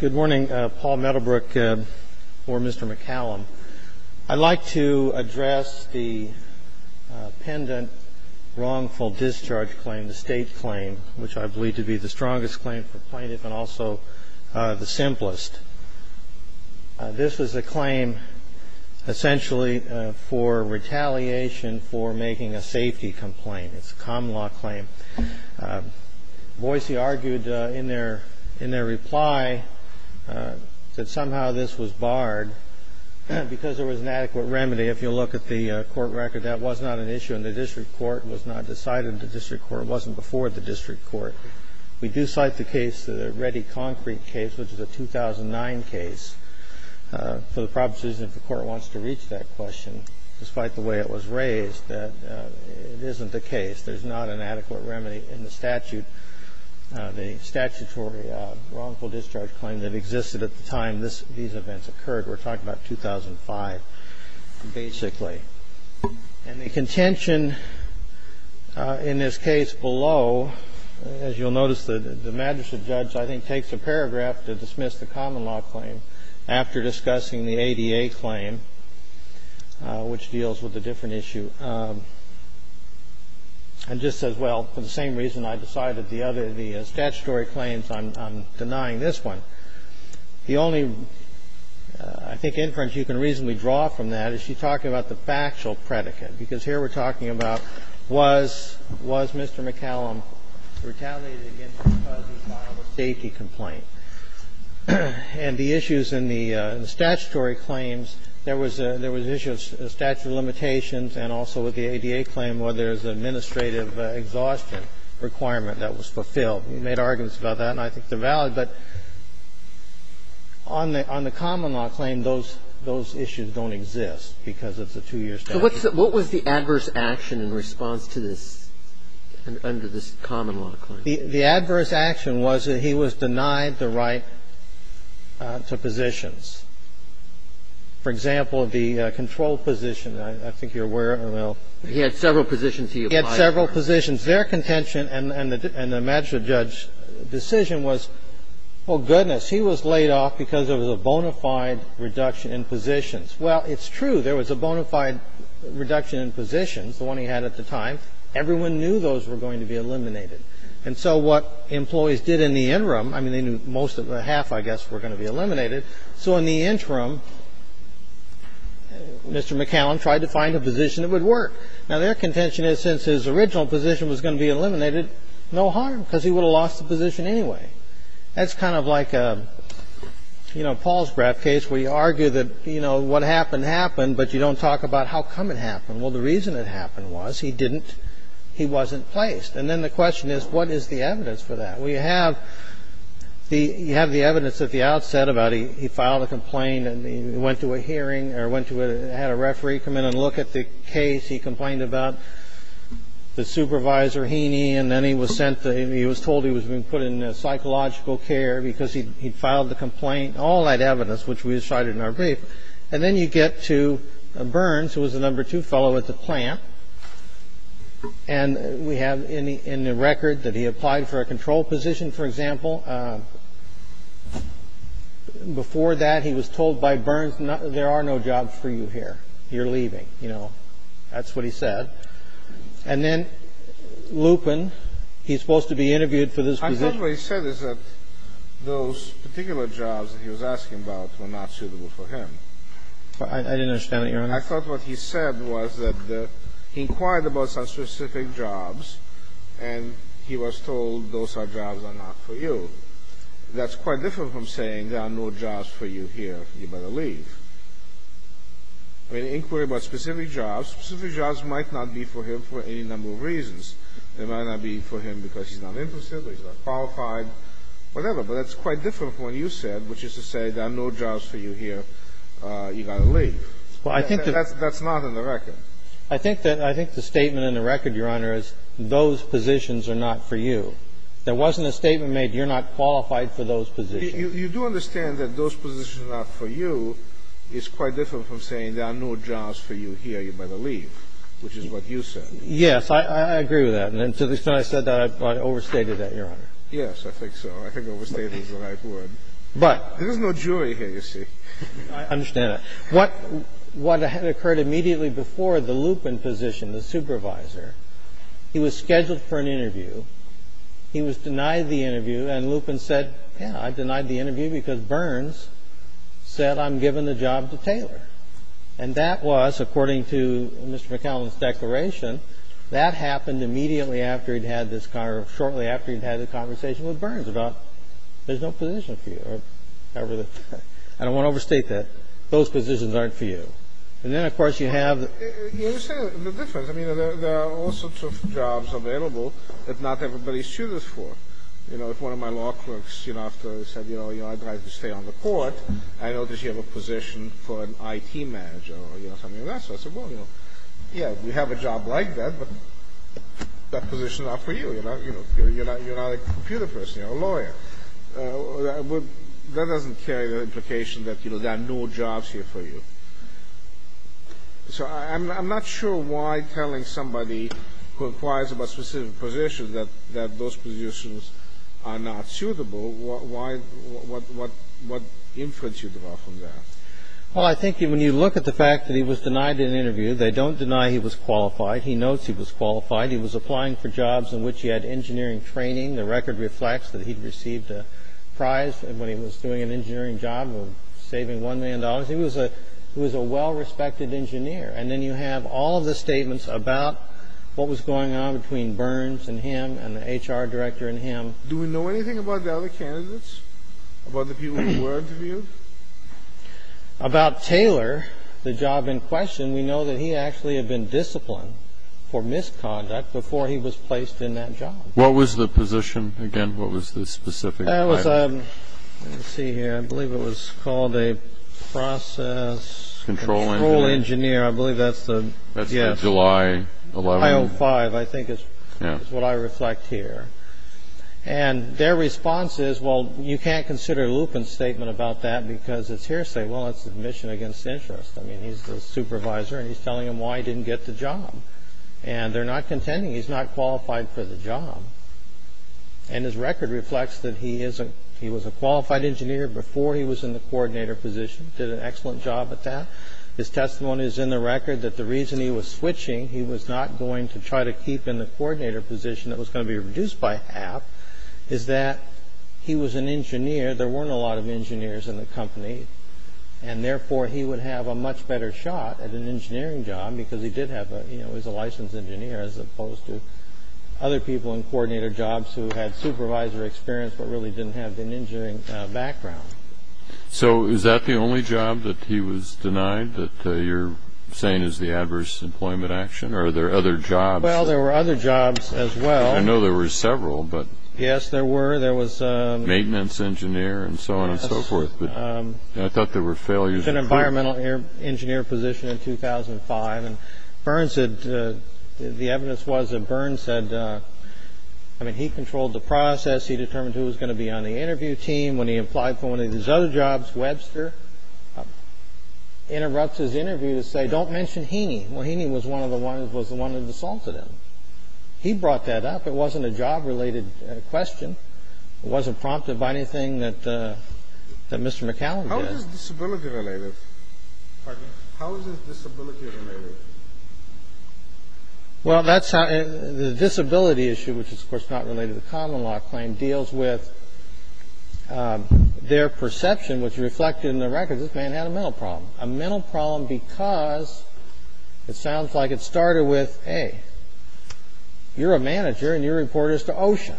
Good morning, Paul Meadowbrook or Mr. McCallum. I'd like to address the pendant wrongful discharge claim, the state claim, which I believe to be the strongest claim for plaintiff and also the simplest. This is a claim essentially for retaliation for making a safety complaint. It's a common law claim. Boise argued in their reply that somehow this was barred because there was an adequate remedy. If you look at the court record, that was not an issue in the district court. It was not decided in the district court. It wasn't before the district court. We do cite the case, the Reddy Concrete case, which is a 2009 case. For the purposes, if the court wants to reach that question, despite the way it was raised, that it isn't the case. There's not an adequate remedy in the statute. The statutory wrongful discharge claim that existed at the time these events occurred. We're talking about 2005, basically. And the contention in this case below, as you'll notice, the magistrate judge, I think, takes a paragraph to dismiss the common law claim after discussing the ADA claim, which deals with a different issue. And just says, well, for the same reason I decided the other, the statutory claims, I'm denying this one. The only, I think, inference you can reasonably draw from that is she's talking about the factual predicate, because here we're talking about, was Mr. McCallum retaliated against because he filed a safety complaint? And the issues in the statutory claims, there was an issue of statute of limitations and also with the ADA claim where there's an administrative exhaustion requirement that was fulfilled. We made arguments about that, and I think they're valid. But on the common law claim, those issues don't exist because it's a two-year statute. So what was the adverse action in response to this, under this common law claim? The adverse action was that he was denied the right to positions. For example, the control position, I think you're aware, Emanuel. He had several positions he applied for. He had several positions. Their contention and the magistrate judge's decision was, oh, goodness, he was laid off because there was a bona fide reduction in positions. Well, it's true. There was a bona fide reduction in positions, the one he had at the time. Everyone knew those were going to be eliminated. And so what employees did in the interim, I mean, they knew most of the half, I guess, were going to be eliminated. So in the interim, Mr. McCallum tried to find a position that would work. Now, their contention is since his original position was going to be eliminated, no harm because he would have lost the position anyway. That's kind of like a, you know, Paul's graph case where you argue that, you know, what happened happened, but you don't talk about how come it happened. Well, the reason it happened was he didn't he wasn't placed. And then the question is, what is the evidence for that? Well, you have the evidence at the outset about he filed a complaint and he went to a hearing or had a referee come in and look at the case. He complained about the supervisor, Heaney, and then he was told he was being put in psychological care because he'd filed the complaint, all that evidence, which we cited in our brief. And then you get to Burns, who was the number two fellow at the plant. And we have in the record that he applied for a control position, for example. Before that, he was told by Burns, there are no jobs for you here. You're leaving. You know, that's what he said. And then Lupin, he's supposed to be interviewed for this position. I thought what he said is that those particular jobs that he was asking about were not suitable for him. I didn't understand it, Your Honor. I mean, I thought what he said was that he inquired about some specific jobs and he was told those jobs are not for you. That's quite different from saying there are no jobs for you here. You better leave. In an inquiry about specific jobs, specific jobs might not be for him for any number of reasons. They might not be for him because he's not interested, he's not qualified, whatever. But that's quite different from what you said, which is to say there are no jobs for you here. You've got to leave. That's not in the record. I think the statement in the record, Your Honor, is those positions are not for you. There wasn't a statement made you're not qualified for those positions. You do understand that those positions are not for you is quite different from saying there are no jobs for you here. You better leave, which is what you said. Yes, I agree with that. And to the extent I said that, I overstated that, Your Honor. Yes, I think so. I think overstating is the right word. But there's no jury here, you see. I understand that. What had occurred immediately before, the Lupin position, the supervisor, he was scheduled for an interview. He was denied the interview. And Lupin said, yeah, I denied the interview because Burns said I'm giving the job to Taylor. And that was, according to Mr. McAllen's declaration, that happened immediately after he'd had this or shortly after he'd had the conversation with Burns about there's no position for you. I don't want to overstate that. Those positions aren't for you. And then, of course, you have the difference. I mean, there are all sorts of jobs available that not everybody's suited for. You know, if one of my law clerks, you know, after I said, you know, I'd like to stay on the court, I noticed you have a position for an IT manager or something of that sort. I said, well, you know, yeah, we have a job like that, but that position's not for you. You're not a computer person. You're a lawyer. That doesn't carry the implication that, you know, there are no jobs here for you. So I'm not sure why telling somebody who inquires about specific positions that those positions are not suitable, what inference you draw from that. Well, I think when you look at the fact that he was denied an interview, they don't deny he was qualified. He notes he was qualified. He was applying for jobs in which he had engineering training. The record reflects that he'd received a prize when he was doing an engineering job, saving $1 million. He was a well-respected engineer. And then you have all of the statements about what was going on between Burns and him and the HR director and him. Do we know anything about the other candidates, about the people who were interviewed? About Taylor, the job in question, we know that he actually had been disciplined for misconduct before he was placed in that job. What was the position again? What was the specific title? Let's see here. I believe it was called a process control engineer. I believe that's the July 11th. I think it's what I reflect here. And their response is, well, you can't consider Lupin's statement about that because it's hearsay. Well, it's admission against interest. I mean, he's the supervisor, and he's telling him why he didn't get the job. And they're not contending. He's not qualified for the job. And his record reflects that he was a qualified engineer before he was in the coordinator position, did an excellent job at that. His testimony is in the record that the reason he was switching, he was not going to try to keep in the coordinator position that was going to be reduced by half, is that he was an engineer. There weren't a lot of engineers in the company, and therefore he would have a much better shot at an engineering job because he was a licensed engineer as opposed to other people in coordinator jobs who had supervisor experience but really didn't have an engineering background. So is that the only job that he was denied that you're saying is the adverse employment action, or are there other jobs? Well, there were other jobs as well. I know there were several. Yes, there were. There was maintenance engineer and so on and so forth. I thought there were failures. He took an environmental engineer position in 2005, and the evidence was that Burns said, I mean, he controlled the process. He determined who was going to be on the interview team. When he applied for one of his other jobs, Webster interrupts his interview to say, don't mention Heaney. Well, Heaney was the one who assaulted him. He brought that up. It wasn't a job-related question. It wasn't prompted by anything that Mr. McCallum did. How is this disability-related? Pardon? How is this disability-related? Well, the disability issue, which is, of course, not related to the common law claim, deals with their perception, which reflected in the records, this man had a mental problem. A mental problem because it sounds like it started with, hey, you're a manager and your report is to OSHA.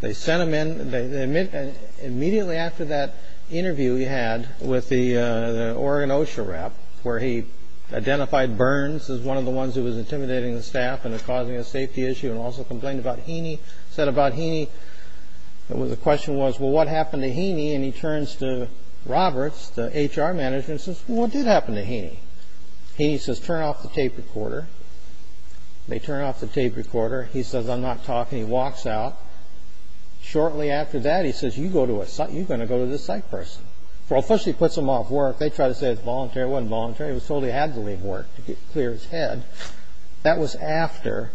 They sent him in. Immediately after that interview he had with the Oregon OSHA rep, where he identified Burns as one of the ones who was intimidating the staff and causing a safety issue and also complained about Heaney, said about Heaney, the question was, well, what happened to Heaney? And he turns to Roberts, the HR manager, and says, well, what did happen to Heaney? Heaney says, turn off the tape recorder. They turn off the tape recorder. He says, I'm not talking. He walks out. Shortly after that he says, you're going to go to this psych person. Well, first he puts him off work. They try to say it's voluntary. It wasn't voluntary. He was told he had to leave work to clear his head. That was after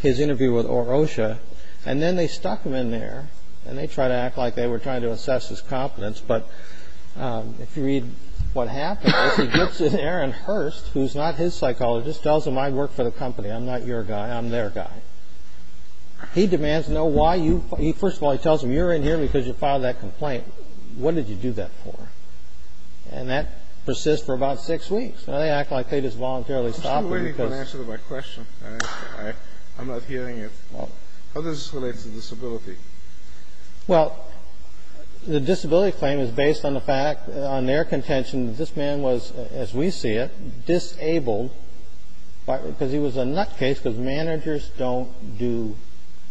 his interview with OSHA, and then they stuck him in there, and they tried to act like they were trying to assess his competence, but if you read what happens, he gets in there and Hurst, who's not his psychologist, just tells him I work for the company. I'm not your guy. I'm their guy. He demands to know why you – first of all, he tells him you're in here because you filed that complaint. What did you do that for? And that persists for about six weeks. Now they act like they just voluntarily stopped him because – I'm still waiting for an answer to my question. I'm not hearing it. How does this relate to disability? Well, the disability claim is based on the fact, on their contention, that this man was, as we see it, disabled because he was a nutcase because managers don't do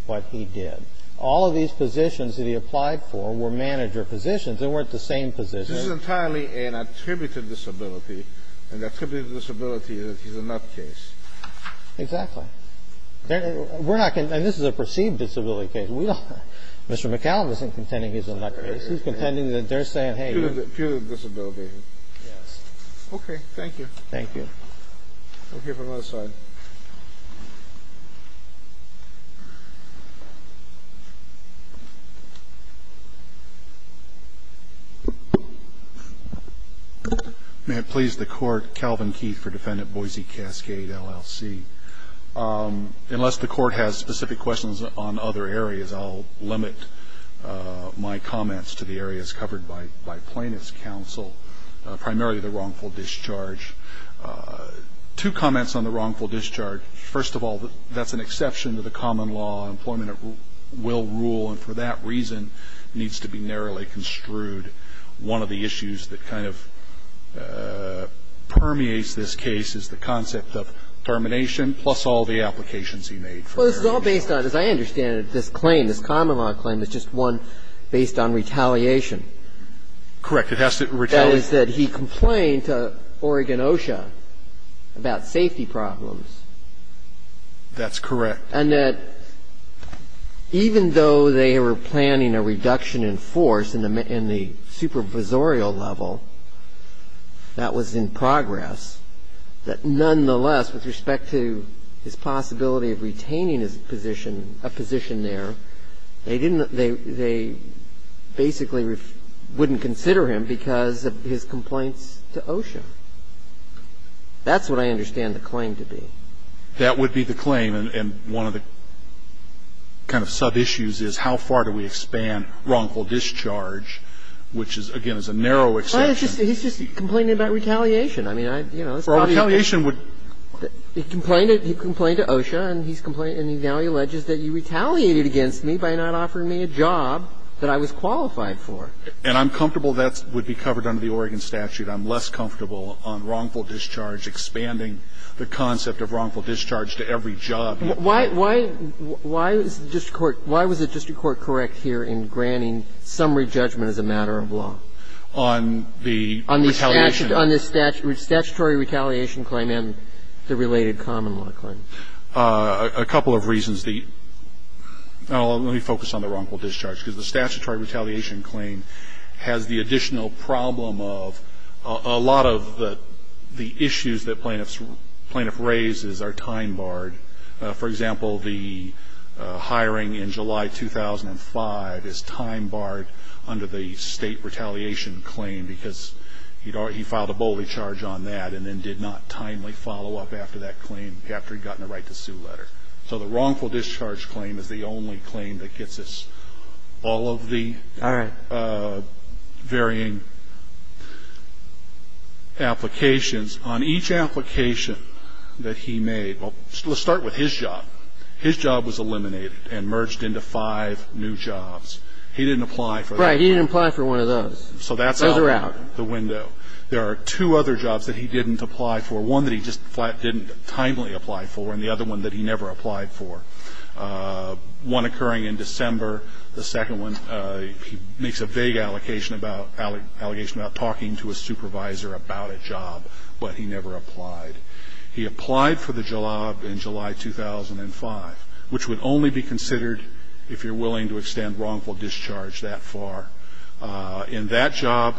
what he did. All of these positions that he applied for were manager positions. They weren't the same positions. This is entirely an attributed disability, an attributed disability that he's a nutcase. Exactly. We're not – and this is a perceived disability case. We don't – Mr. McCallum isn't contending he's a nutcase. He's contending that they're saying, hey – Purely a disability. Yes. Okay. Thank you. Thank you. We'll hear from the other side. May it please the Court, Calvin Keith for Defendant Boise Cascade, LLC. Unless the Court has specific questions on other areas, I'll limit my comments to the areas covered by plaintiff's counsel, primarily the wrongful discharge. Two comments on the wrongful discharge. First of all, that's an exception to the common law. Employment will rule, and for that reason needs to be narrowly construed. And second, that's an exception to the common law. And for that reason needs to be narrowly construed. One of the issues that kind of permeates this case is the concept of termination plus all the applications he made for their discharge. Well, this is all based on, as I understand it, this claim, this common law claim, it's just one based on retaliation. Correct. It has to retaliate. And that was that he complained to Oregon OSHA about safety problems. That's correct. And that even though they were planning a reduction in force in the supervisorial level, that was in progress, that nonetheless, with respect to his possibility of retaining his position, a position there, they didn't, they basically wouldn't consider him because of his complaints to OSHA. That's what I understand the claim to be. That would be the claim. And one of the kind of sub-issues is how far do we expand wrongful discharge, which is, again, is a narrow exception. Well, he's just complaining about retaliation. I mean, I, you know. Well, retaliation would. He complained to OSHA, and he's complaining, and he now alleges that you retaliated against me by not offering me a job that I was qualified for. And I'm comfortable that would be covered under the Oregon statute. I'm less comfortable on wrongful discharge, expanding the concept of wrongful discharge to every job. Why is the district court, why was the district court correct here in granting summary judgment as a matter of law? On the retaliation. On the statutory retaliation claim and the related common law claim. A couple of reasons. Now, let me focus on the wrongful discharge, because the statutory retaliation claim has the additional problem of a lot of the issues that plaintiffs raise are time barred. For example, the hiring in July 2005 is time barred under the state retaliation claim because he filed a bolding charge on that and then did not timely follow up after that claim after he'd gotten a right to sue letter. So the wrongful discharge claim is the only claim that gets us all of the varying applications on each application that he made. Well, let's start with his job. His job was eliminated and merged into five new jobs. He didn't apply for that job. Right. He didn't apply for one of those. So that's out the window. So they're out. There are two other jobs that he didn't apply for, one that he just flat didn't timely apply for and the other one that he never applied for. One occurring in December. The second one, he makes a vague allegation about talking to a supervisor about a job, but he never applied. He applied for the job in July 2005, which would only be considered if you're willing to extend wrongful discharge that far. In that job.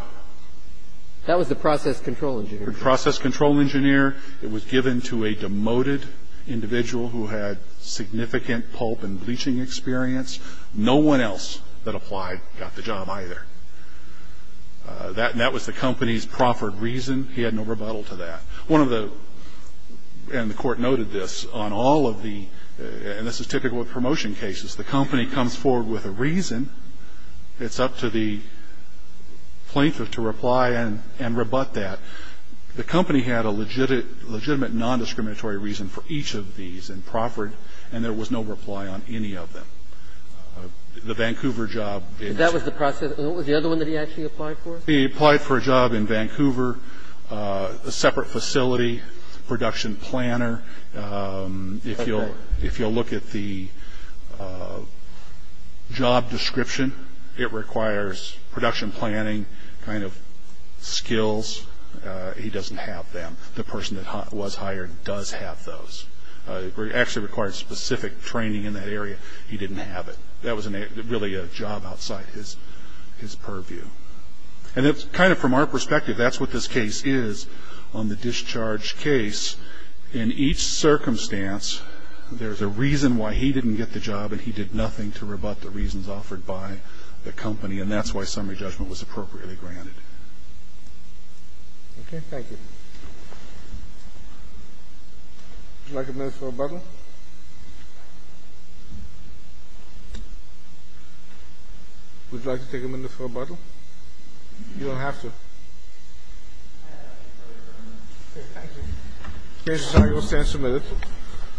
That was the process control engineer. The process control engineer. It was given to a demoted individual who had significant pulp and bleaching experience. No one else that applied got the job either. That was the company's proffered reason. He had no rebuttal to that. One of the, and the Court noted this on all of the, and this is typical of promotion cases, the company comes forward with a reason. It's up to the plaintiff to reply and rebut that. The company had a legitimate nondiscriminatory reason for each of these and proffered and there was no reply on any of them. The Vancouver job. That was the process. What was the other one that he actually applied for? He applied for a job in Vancouver, a separate facility, production planner. If you'll look at the job description, it requires production planning kind of skills. He doesn't have them. The person that was hired does have those. It actually requires specific training in that area. He didn't have it. That was really a job outside his purview. And it's kind of from our perspective, that's what this case is on the discharge case. In each circumstance, there's a reason why he didn't get the job and he did nothing to rebut the reasons offered by the company. And that's why summary judgment was appropriately granted. Thank you. Would you like a minute for rebuttal? Would you like to take a minute for rebuttal? You don't have to. Okay, thank you. Thank you.